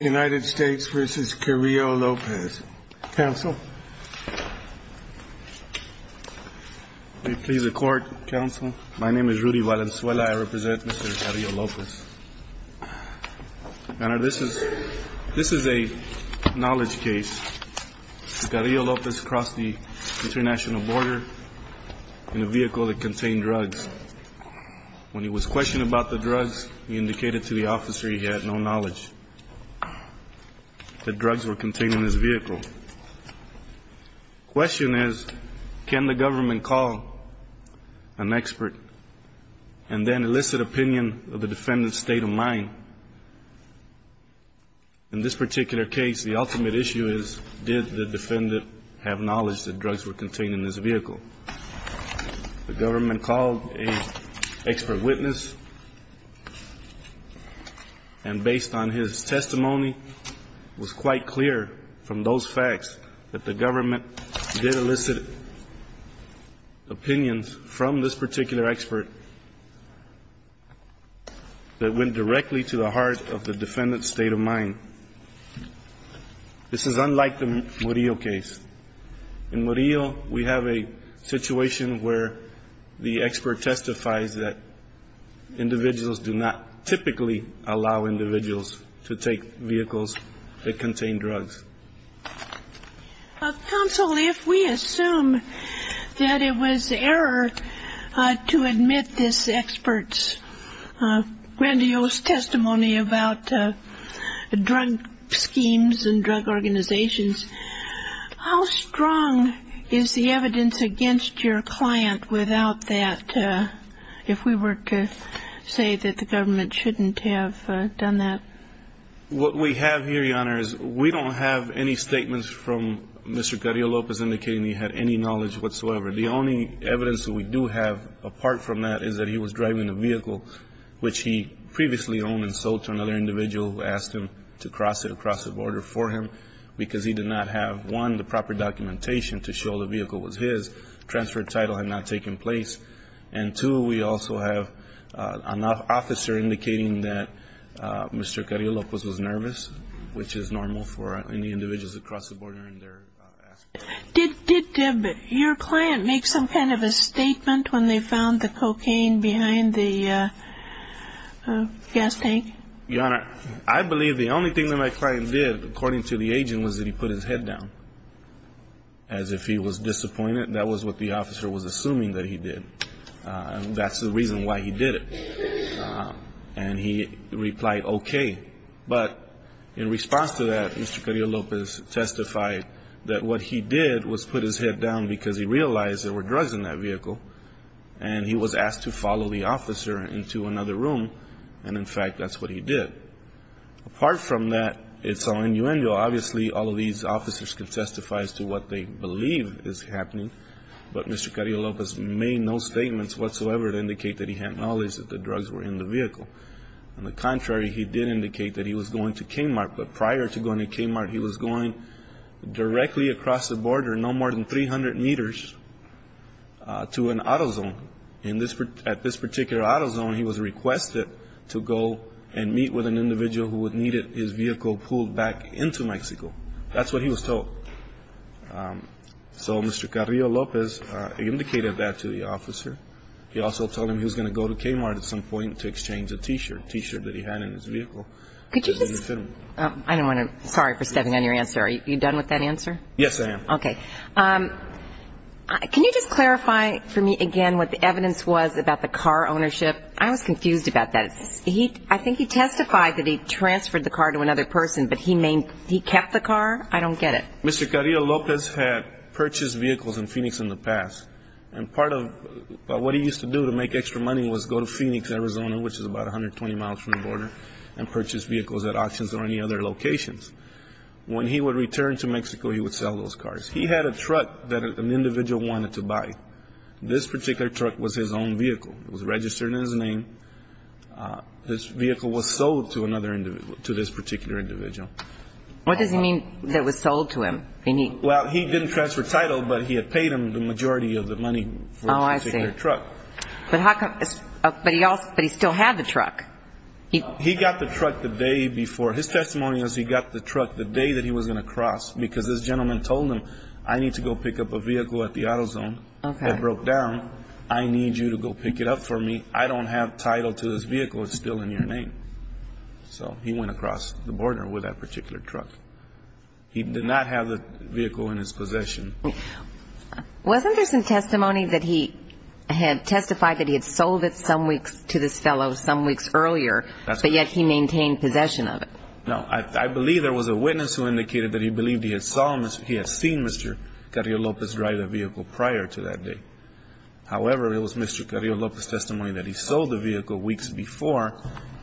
United States v. Carrillo-Lopez. Council, may it please the court. Council, my name is Rudy Valenzuela. I represent Mr. Carrillo-Lopez. This is a knowledge case. Carrillo-Lopez crossed the international border in a vehicle that contained drugs. When he was questioned about the drugs, he indicated to the officer he had no knowledge that drugs were contained in his vehicle. The question is, can the government call an expert and then elicit opinion of the defendant's state of mind? In this particular case, the ultimate issue is, did the defendant have knowledge that drugs were contained in his vehicle? The government called an expert witness, and based on his testimony, it was quite clear from those facts that the government did elicit opinions from this particular expert that went directly to the heart of the defendant's state of mind. This is unlike the Murillo case. In Murillo, we have a situation where the expert testifies that individuals do not typically allow individuals to take vehicles that contain drugs. Counsel, if we assume that it was error to admit this expert's grandiose testimony about drug schemes and drug organizations, how strong is the evidence against your client without that, if we were to say that the government shouldn't have done that? What we have here, Your Honor, is we don't have any statements from Mr. Carrillo Lopez indicating he had any knowledge whatsoever. The only evidence that we do have apart from that is that he was driving a vehicle which he previously owned and sold to another individual who asked him to cross it across the border for him because he did not have, one, the proper documentation to show the vehicle was his, transferred title had not taken place, and two, we also have an officer indicating that Mr. Carrillo Lopez was nervous, which is normal for any individuals that cross the border and they're asking for help. Did your client make some kind of a statement when they found the cocaine behind the gas tank? Your Honor, I believe the only thing that my client did, according to the agent, was that he put his head down as if he was disappointed. That was what the officer was assuming that he did. That's the reason why he did it. And he replied, okay. But in response to that, Mr. Carrillo Lopez testified that what he did was put his head down because he realized there were drugs in that vehicle, and he was asked to follow the officer into another room, and, in fact, that's what he did. Apart from that, it's all innuendo. Obviously, all of these officers can testify as to what they believe is happening, but Mr. Carrillo Lopez made no statements whatsoever to indicate that he had knowledge that the drugs were in the vehicle. On the contrary, he did indicate that he was going to Kmart, but prior to going to Kmart, he was going directly across the border no more than 300 meters to an auto zone. At this particular auto zone, he was requested to go and meet with an individual who needed his vehicle pulled back into Mexico. That's what he was told. So Mr. Carrillo Lopez indicated that to the officer. He also told him he was going to go to Kmart at some point to exchange a T-shirt, a T-shirt that he had in his vehicle. I don't want to – sorry for stepping on your answer. Are you done with that answer? Yes, I am. Okay. Can you just clarify for me again what the evidence was about the car ownership? I was confused about that. I think he testified that he transferred the car to another person, but he kept the car? I don't get it. Mr. Carrillo Lopez had purchased vehicles in Phoenix in the past, and part of what he used to do to make extra money was go to Phoenix, Arizona, which is about 120 miles from the border, and purchase vehicles at auctions or any other locations. When he would return to Mexico, he would sell those cars. He had a truck that an individual wanted to buy. This particular truck was his own vehicle. It was registered in his name. This vehicle was sold to this particular individual. What does he mean that it was sold to him? Well, he didn't transfer title, but he had paid him the majority of the money for this particular truck. Oh, I see. But he still had the truck. He got the truck the day before. Because this gentleman told him, I need to go pick up a vehicle at the AutoZone. It broke down. I need you to go pick it up for me. I don't have title to this vehicle. It's still in your name. So he went across the border with that particular truck. He did not have the vehicle in his possession. Wasn't there some testimony that he had testified that he had sold it some weeks to this fellow some weeks earlier, but yet he maintained possession of it? No. I believe there was a witness who indicated that he believed he had seen Mr. Carrillo Lopez drive the vehicle prior to that day. However, it was Mr. Carrillo Lopez's testimony that he sold the vehicle weeks before,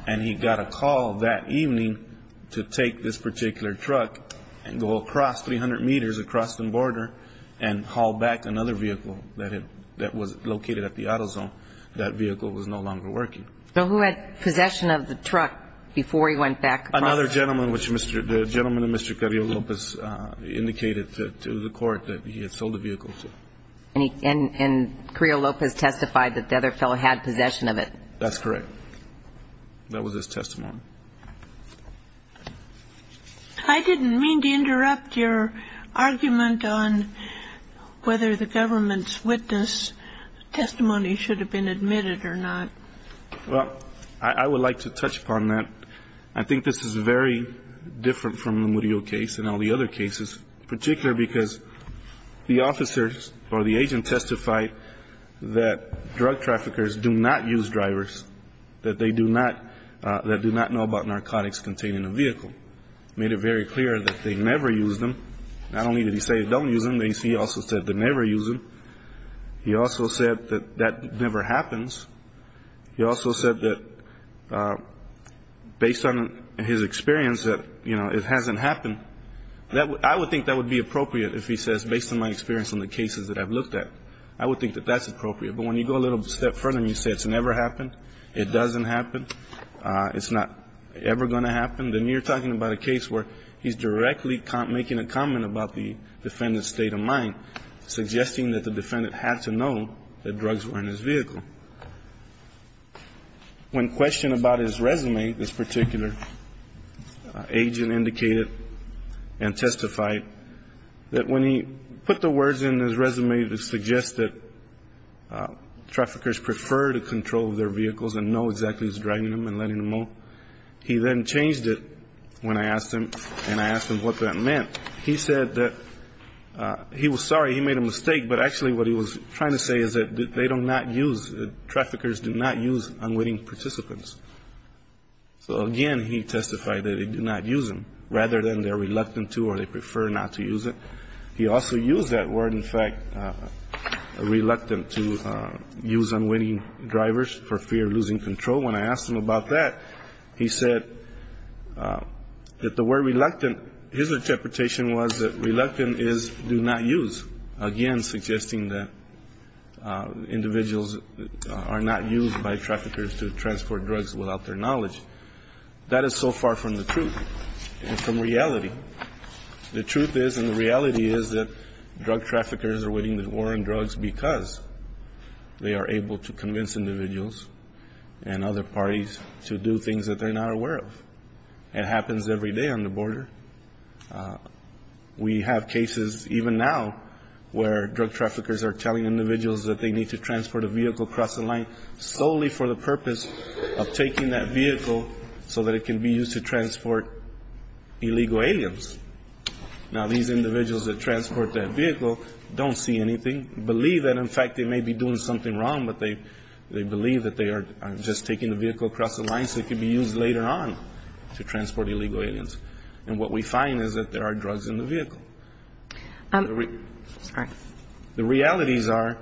and he got a call that evening to take this particular truck and go across 300 meters across the border and haul back another vehicle that was located at the AutoZone. That vehicle was no longer working. So who had possession of the truck before he went back? Another gentleman, which the gentleman, Mr. Carrillo Lopez, indicated to the court that he had sold the vehicle. And Carrillo Lopez testified that the other fellow had possession of it? That's correct. That was his testimony. I didn't mean to interrupt your argument on whether the government's witness testimony should have been admitted or not. Well, I would like to touch upon that. I think this is very different from the Murillo case and all the other cases, particularly because the officer or the agent testified that drug traffickers do not use drivers, that they do not know about narcotics contained in a vehicle. He made it very clear that they never use them. Not only did he say don't use them, he also said they never use them. He also said that that never happens. He also said that based on his experience that, you know, it hasn't happened. I would think that would be appropriate if he says based on my experience on the cases that I've looked at. I would think that that's appropriate. But when you go a little step further and you say it's never happened, it doesn't happen, it's not ever going to happen, then you're talking about a case where he's directly making a comment about the defendant's state of mind, suggesting that the defendant had to know that drugs were in his vehicle. When questioned about his resume, this particular agent indicated and testified that when he put the words in his resume to suggest that traffickers prefer to control their vehicles and know exactly who's driving them and letting them move, he then changed it when I asked him, and I asked him what that meant. He said that he was sorry he made a mistake, but actually what he was trying to say is that they do not use, that traffickers do not use unwitting participants. So, again, he testified that they do not use them, rather than they're reluctant to or they prefer not to use it. He also used that word, in fact, reluctant to use unwitting drivers for fear of losing control. When I asked him about that, he said that the word reluctant, his interpretation was that reluctant is do not use, again suggesting that individuals are not used by traffickers to transport drugs without their knowledge. That is so far from the truth and from reality. The truth is and the reality is that drug traffickers are winning the war on drugs because they are able to convince individuals and other parties to do things that they're not aware of. It happens every day on the border. We have cases even now where drug traffickers are telling individuals that they need to transport a vehicle across the line solely for the purpose of taking that vehicle so that it can be used to transport illegal aliens. Now, these individuals that transport that vehicle don't see anything, believe that, in fact, they may be doing something wrong, but they believe that they are just taking the vehicle across the line so it can be used later on to transport illegal aliens. And what we find is that there are drugs in the vehicle. The realities are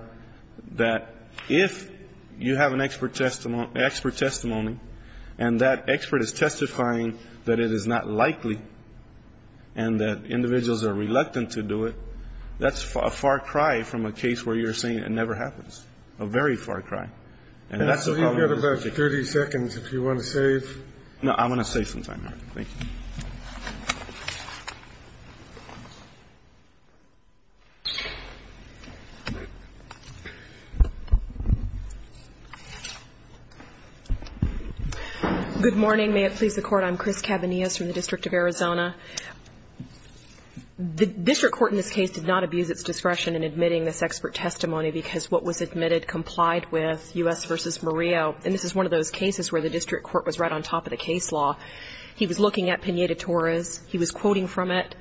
that if you have an expert testimony and that expert is testifying that it is not likely and that individuals are reluctant to do it, that's a far cry from a case where you're saying it never happens, a very far cry. And that's the problem. We have about 30 seconds if you want to save. No, I want to save some time. Thank you. Good morning. May it please the Court. I'm Chris Cabanillas from the District of Arizona. The district court in this case did not abuse its discretion in admitting this expert testimony because what was admitted complied with U.S. v. Murillo. And this is one of those cases where the district court was right on top of the case law. He was looking at Pineda-Torres. He was quoting from it,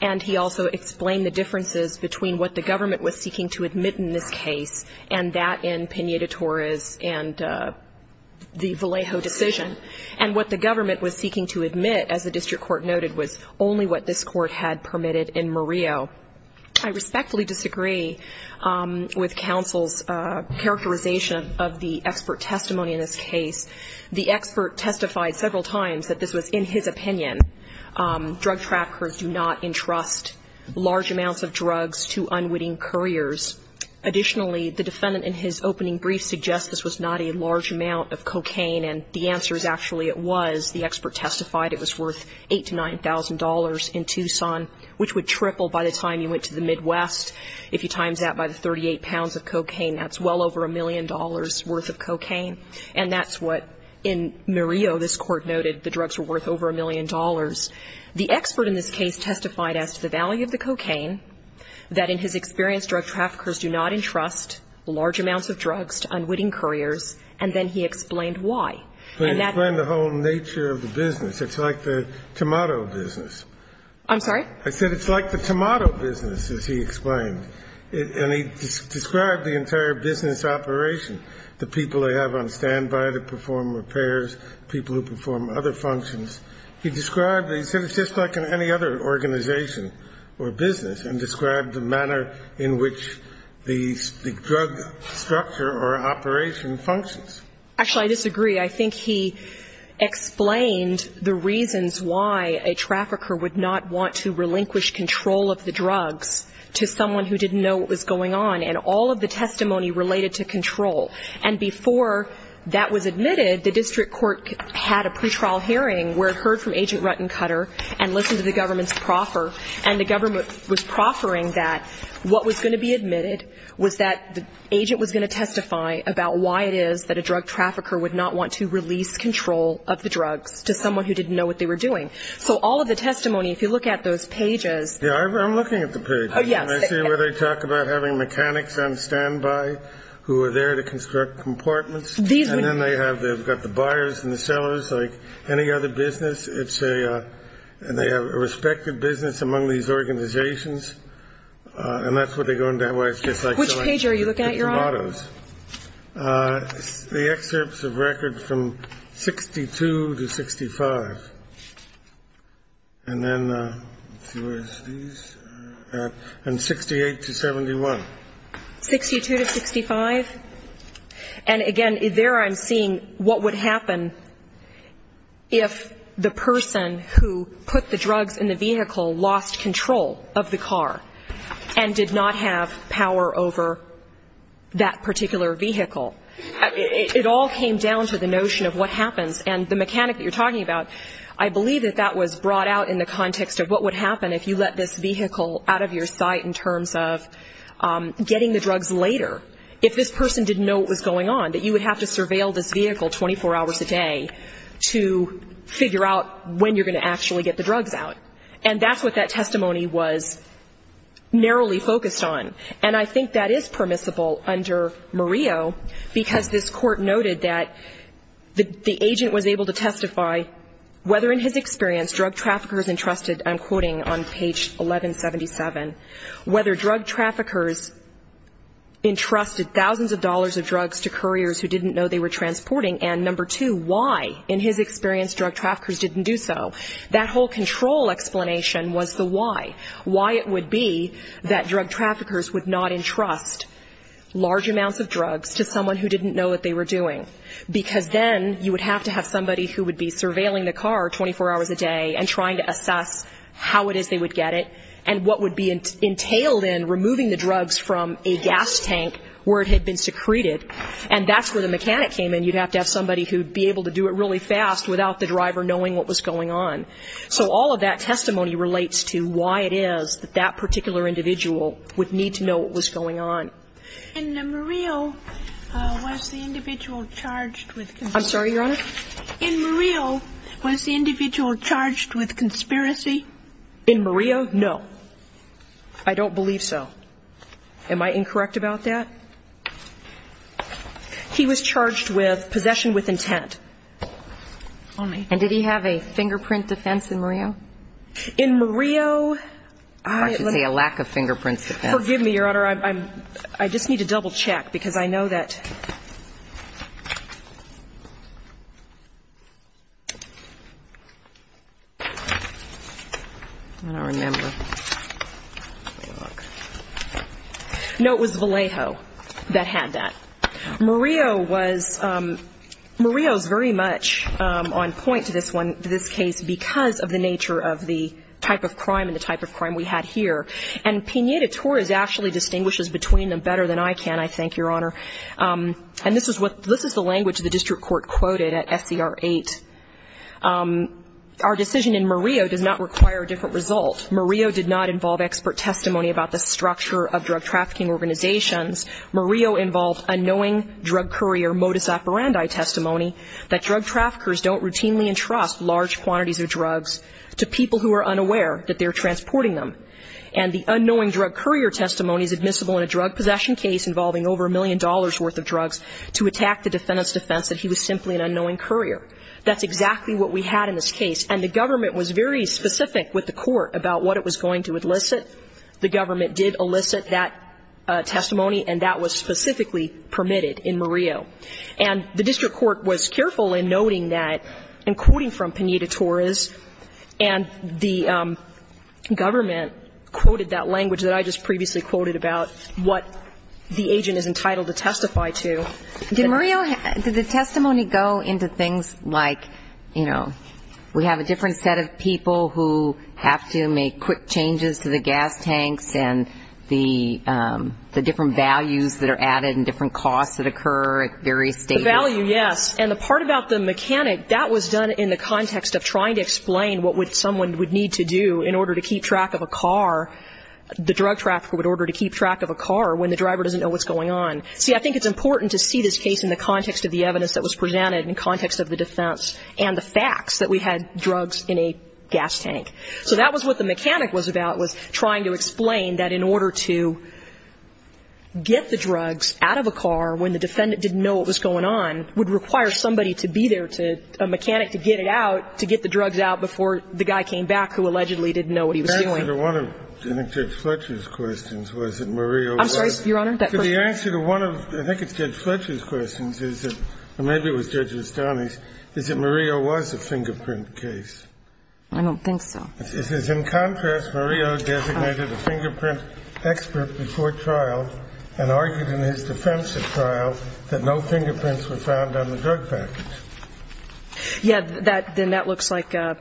and he also explained the differences between what the government was seeking to admit in this case and that in Pineda-Torres and the Vallejo decision and what the government was seeking to admit, as the district court noted, was only what this court had permitted in Murillo. I respectfully disagree with counsel's characterization of the expert testimony in this case. The expert testified several times that this was in his opinion. Drug trackers do not entrust large amounts of drugs to unwitting couriers. Additionally, the defendant in his opening brief suggests this was not a large amount of cocaine, and the answer is actually it was. The expert testified it was worth $8,000 to $9,000 in Tucson, which would triple by the time you went to the Midwest. If you times that by the 38 pounds of cocaine, that's well over a million dollars' worth of cocaine. And that's what in Murillo this court noted the drugs were worth over a million dollars. The expert in this case testified as to the value of the cocaine, that in his experience drug traffickers do not entrust large amounts of drugs to unwitting couriers, and then he explained why. And that was the case. The whole nature of the business, it's like the tomato business. I'm sorry? I said it's like the tomato business, as he explained. And he described the entire business operation, the people they have on standby to perform repairs, people who perform other functions. He described it, he said it's just like in any other organization or business, and described the manner in which the drug structure or operation functions. Actually, I disagree. I think he explained the reasons why a trafficker would not want to relinquish control of the drugs to someone who didn't know what was going on, and all of the testimony related to control. And before that was admitted, the district court had a pretrial hearing where it heard from Agent Ruttencutter and listened to the government's proffer, and the government was proffering that what was going to be admitted was that the agent was going to testify about why it is that a drug trafficker would not want to release control of the drugs to someone who didn't know what they were doing. So all of the testimony, if you look at those pages. Yeah, I'm looking at the pages. Oh, yes. I see where they talk about having mechanics on standby who are there to construct compartments. And then they have the buyers and the sellers, like any other business. And they have a respected business among these organizations. And that's what they go into. Which page are you looking at, Your Honor? It's mottos. The excerpts of records from 62 to 65. And then let's see where it is. And 68 to 71. 62 to 65. And again, there I'm seeing what would happen if the person who put the drugs in the vehicle lost control of the car and did not have power over that particular vehicle. It all came down to the notion of what happens. And the mechanic that you're talking about, I believe that that was brought out in the context of what would happen if you let this vehicle out of your sight in terms of getting the drugs later. If this person didn't know what was going on, that you would have to surveil this vehicle 24 hours a day to figure out when you're going to actually get the drugs out. And that's what that testimony was narrowly focused on. And I think that is permissible under Murillo because this Court noted that the agent was able to testify whether in his experience drug traffickers entrusted, I'm quoting on page 1177, whether drug traffickers entrusted thousands of dollars of drugs to couriers who didn't know they were transporting, and number two, why in his experience drug traffickers didn't do so. That whole control explanation was the why. Why it would be that drug traffickers would not entrust large amounts of drugs to someone who didn't know what they were doing. Because then you would have to have somebody who would be surveilling the car 24 hours a day and trying to assess how it is they would get it and what would be entailed in removing the drugs from a gas tank where it had been secreted. And that's where the mechanic came in. You'd have to have somebody who would be able to do it really fast without the driver knowing what was going on. So all of that testimony relates to why it is that that particular individual would need to know what was going on. In Murillo, was the individual charged with control? I'm sorry, Your Honor? In Murillo, was the individual charged with conspiracy? In Murillo, no. I don't believe so. Am I incorrect about that? He was charged with possession with intent. And did he have a fingerprint defense in Murillo? In Murillo, I... I should say a lack of fingerprint defense. Forgive me, Your Honor. I just need to double-check because I know that... I don't remember. Let me look. No, it was Vallejo that had that. Murillo was... Murillo is very much on point to this one, to this case, because of the nature of the type of crime and the type of crime we had here. And Pineda-Torres actually distinguishes between them better than I can, I think, Your Honor. And this is the language the district court quoted at SCR 8. Our decision in Murillo does not require a different result. Murillo did not involve expert testimony about the structure of drug trafficking organizations. Murillo involved unknowing drug courier modus operandi testimony that drug traffickers don't routinely entrust large quantities of drugs to people who are unaware that they're transporting them. And the unknowing drug courier testimony is admissible in a drug possession case involving over a million dollars' worth of drugs to attack the defendant's defense that he was simply an unknowing courier. That's exactly what we had in this case. And the government was very specific with the court about what it was going to elicit. The government did elicit that testimony, and that was specifically permitted in Murillo. And the district court was careful in noting that, and quoting from Pineda-Torres. And the government quoted that language that I just previously quoted about what the agent is entitled to testify to. Did Murillo, did the testimony go into things like, you know, we have a different set of people who have to make quick changes to the gas tanks and the different values that are added and different costs that occur at various stages? The value, yes. And the part about the mechanic, that was done in the context of trying to explain what someone would need to do in order to keep track of a car, the drug trafficker would order to keep track of a car when the driver doesn't know what's going on. See, I think it's important to see this case in the context of the evidence that was presented in context of the defense and the facts that we had drugs in a gas tank. So that was what the mechanic was about, was trying to explain that in order to get the drugs out of a car when the defendant didn't know what was going on would require somebody to be there to, a mechanic, to get it out, to get the drugs out before the guy came back who allegedly didn't know what he was doing. The answer to one of Judge Fletcher's questions was that Murillo was. I'm sorry, Your Honor. The answer to one of, I think it's Judge Fletcher's questions, or maybe it was Judge Estany's, is that Murillo was a fingerprint case. I don't think so. It says, in contrast, Murillo designated a fingerprint expert before trial and argued in his defense at trial that no fingerprints were found on the drug package. Yeah, then that looks like that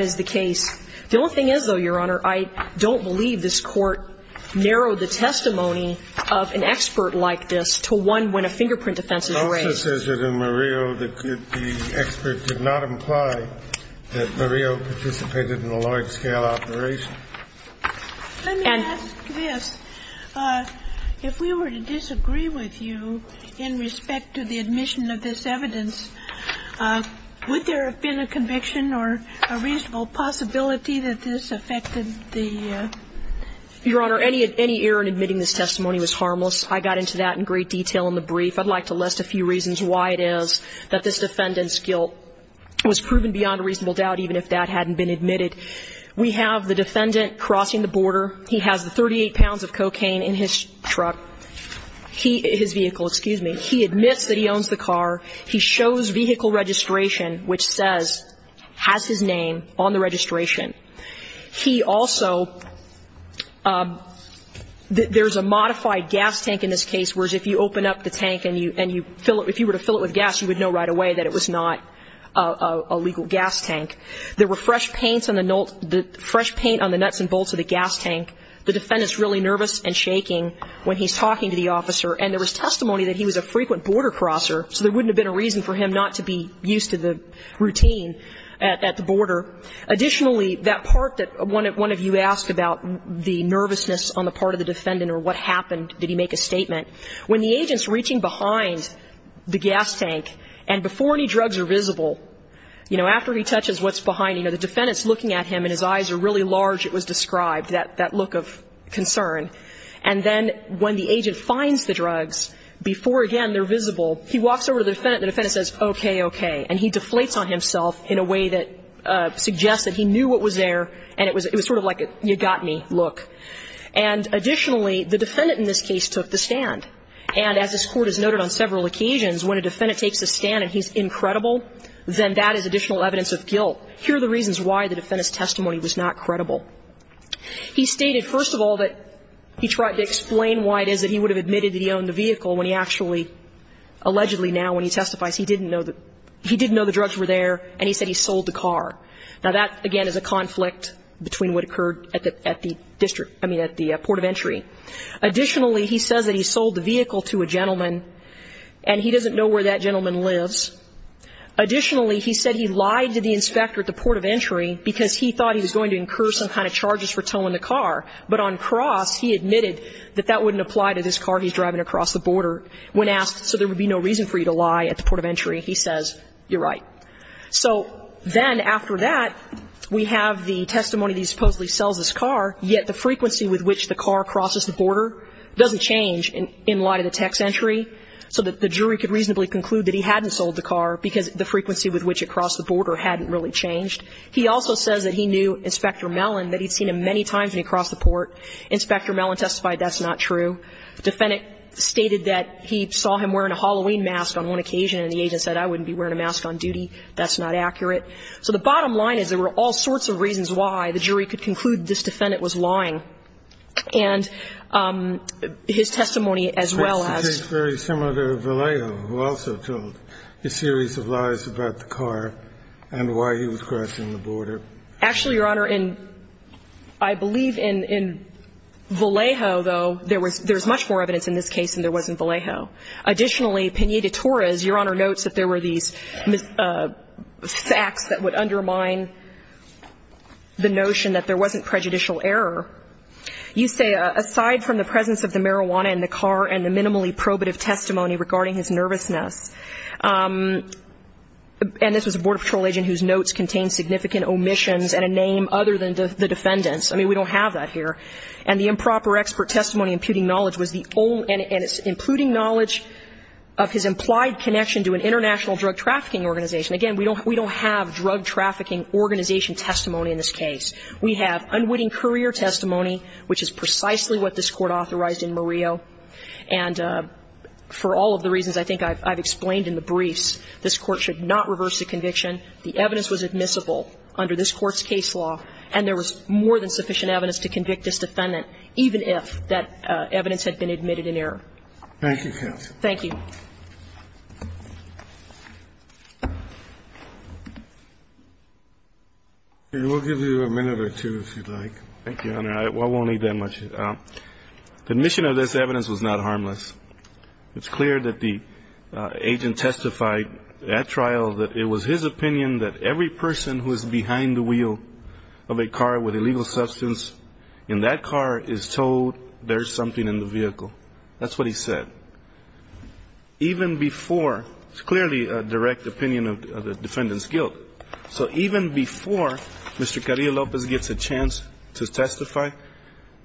is the case. The only thing is, though, Your Honor, I don't believe this Court narrowed the testimony of an expert like this to one when a fingerprint defense is raised. It also says it in Murillo that the expert did not imply that Murillo participated in a large-scale operation. Let me ask this. If we were to disagree with you in respect to the admission of this evidence, would there have been a conviction or a reasonable possibility that this affected the ---- Your Honor, any error in admitting this testimony was harmless. I got into that in great detail in the brief. I'd like to list a few reasons why it is that this defendant's guilt was proven beyond a reasonable doubt, even if that hadn't been admitted. We have the defendant crossing the border. He has the 38 pounds of cocaine in his truck. He ---- his vehicle, excuse me. He admits that he owns the car. He shows vehicle registration, which says, has his name on the registration. He also ---- there's a modified gas tank in this case, whereas if you open up the tank and you fill it ---- if you were to fill it with gas, you would know right away that it was not a legal gas tank. There were fresh paints on the nuts and bolts of the gas tank. The defendant's really nervous and shaking when he's talking to the officer. And there was testimony that he was a frequent border crosser, so there wouldn't have been a reason for him not to be used to the routine at the border. Additionally, that part that one of you asked about, the nervousness on the part of the defendant or what happened, did he make a statement? When the agent's reaching behind the gas tank and before any drugs are visible, you know, after he touches what's behind, you know, the defendant's looking at him and his eyes are really large, it was described, that look of concern. And then when the agent finds the drugs, before again they're visible, he walks over to the defendant and the defendant says, okay, okay. And he deflates on himself in a way that suggests that he knew what was there and it was sort of like a you got me look. And additionally, the defendant in this case took the stand. And as this Court has noted on several occasions, when a defendant takes a stand and he's incredible, then that is additional evidence of guilt. Here are the reasons why the defendant's testimony was not credible. He stated, first of all, that he tried to explain why it is that he would have admitted that he owned the vehicle when he actually, allegedly now when he testifies, he didn't know the drugs were there and he said he sold the car. Now, that, again, is a conflict between what occurred at the district, I mean at the port of entry. Additionally, he says that he sold the vehicle to a gentleman and he doesn't know where that gentleman lives. Additionally, he said he lied to the inspector at the port of entry because he thought he was going to incur some kind of charges for towing the car. But on cross, he admitted that that wouldn't apply to this car he's driving across the border. When asked, so there would be no reason for you to lie at the port of entry, he says, you're right. So then after that, we have the testimony that he supposedly sells this car, yet the frequency with which the car crosses the border doesn't change in light of the text entry. So the jury could reasonably conclude that he hadn't sold the car because the frequency with which it crossed the border hadn't really changed. He also says that he knew Inspector Mellon, that he'd seen him many times when he crossed the port. Inspector Mellon testified that's not true. The defendant stated that he saw him wearing a Halloween mask on one occasion and the agent said, I wouldn't be wearing a mask on duty. That's not accurate. So the bottom line is there were all sorts of reasons why the jury could conclude this defendant was lying. And his testimony as well as the case very similar to Vallejo, who also told a series of lies about the car and why he was crossing the border. Actually, Your Honor, I believe in Vallejo, though, there was much more evidence in this case than there was in Vallejo. Additionally, Pena de Torres, Your Honor, notes that there were these facts that would You say, aside from the presence of the marijuana in the car and the minimally probative testimony regarding his nervousness. And this was a Border Patrol agent whose notes contained significant omissions and a name other than the defendant's. I mean, we don't have that here. And the improper expert testimony imputing knowledge was the only and it's imputing knowledge of his implied connection to an international drug trafficking organization. Again, we don't have drug trafficking organization testimony in this case. We have unwitting career testimony, which is precisely what this Court authorized in Murillo, and for all of the reasons I think I've explained in the briefs, this Court should not reverse the conviction. The evidence was admissible under this Court's case law and there was more than sufficient evidence to convict this defendant, even if that evidence had been admitted in error. Thank you, counsel. Thank you. We'll give you a minute or two, if you'd like. Thank you, Your Honor. I won't need that much. The mission of this evidence was not harmless. It's clear that the agent testified at trial that it was his opinion that every person who is behind the wheel of a car with illegal substance in that car is told there's something in the vehicle. That's what he said. Even before, it's clearly a direct opinion of the defendant's guilt. So even before Mr. Carrillo-Lopez gets a chance to testify,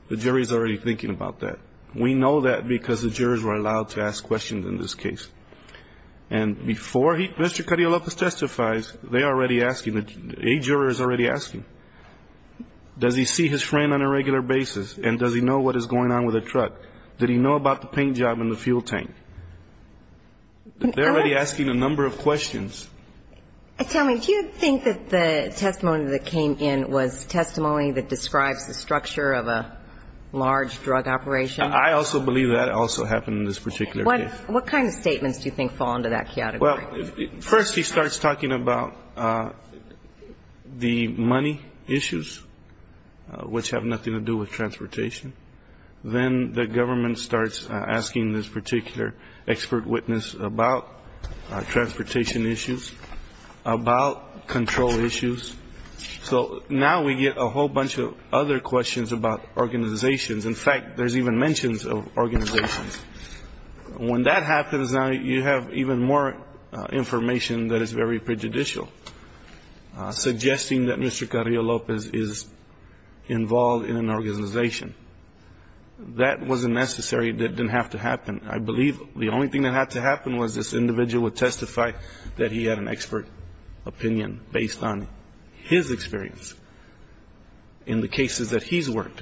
the jury is already thinking about that. We know that because the jurors were allowed to ask questions in this case. And before Mr. Carrillo-Lopez testifies, they are already asking, a juror is already asking, does he see his friend on a regular basis and does he know what is going on with the truck? Did he know about the paint job in the fuel tank? They're already asking a number of questions. Tell me, do you think that the testimony that came in was testimony that describes the structure of a large drug operation? I also believe that also happened in this particular case. What kind of statements do you think fall into that category? Well, first he starts talking about the money issues, which have nothing to do with transportation. Then the government starts asking this particular expert witness about transportation issues, about control issues. So now we get a whole bunch of other questions about organizations. In fact, there's even mentions of organizations. When that happens, now you have even more information that is very prejudicial, suggesting that Mr. Carrillo-Lopez is involved in an organization. That wasn't necessary. It didn't have to happen. I believe the only thing that had to happen was this individual would testify that he had an expert opinion based on his experience in the cases that he's worked.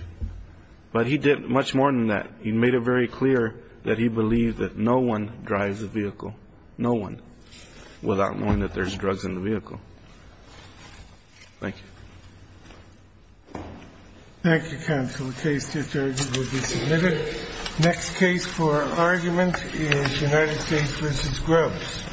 But he did much more than that. He made it very clear that he believed that no one drives a vehicle, no one, without knowing that there's drugs in the vehicle. Thank you. Thank you, counsel. The case discharge will be submitted. Next case for argument is United States v. Grubbs. Thank you.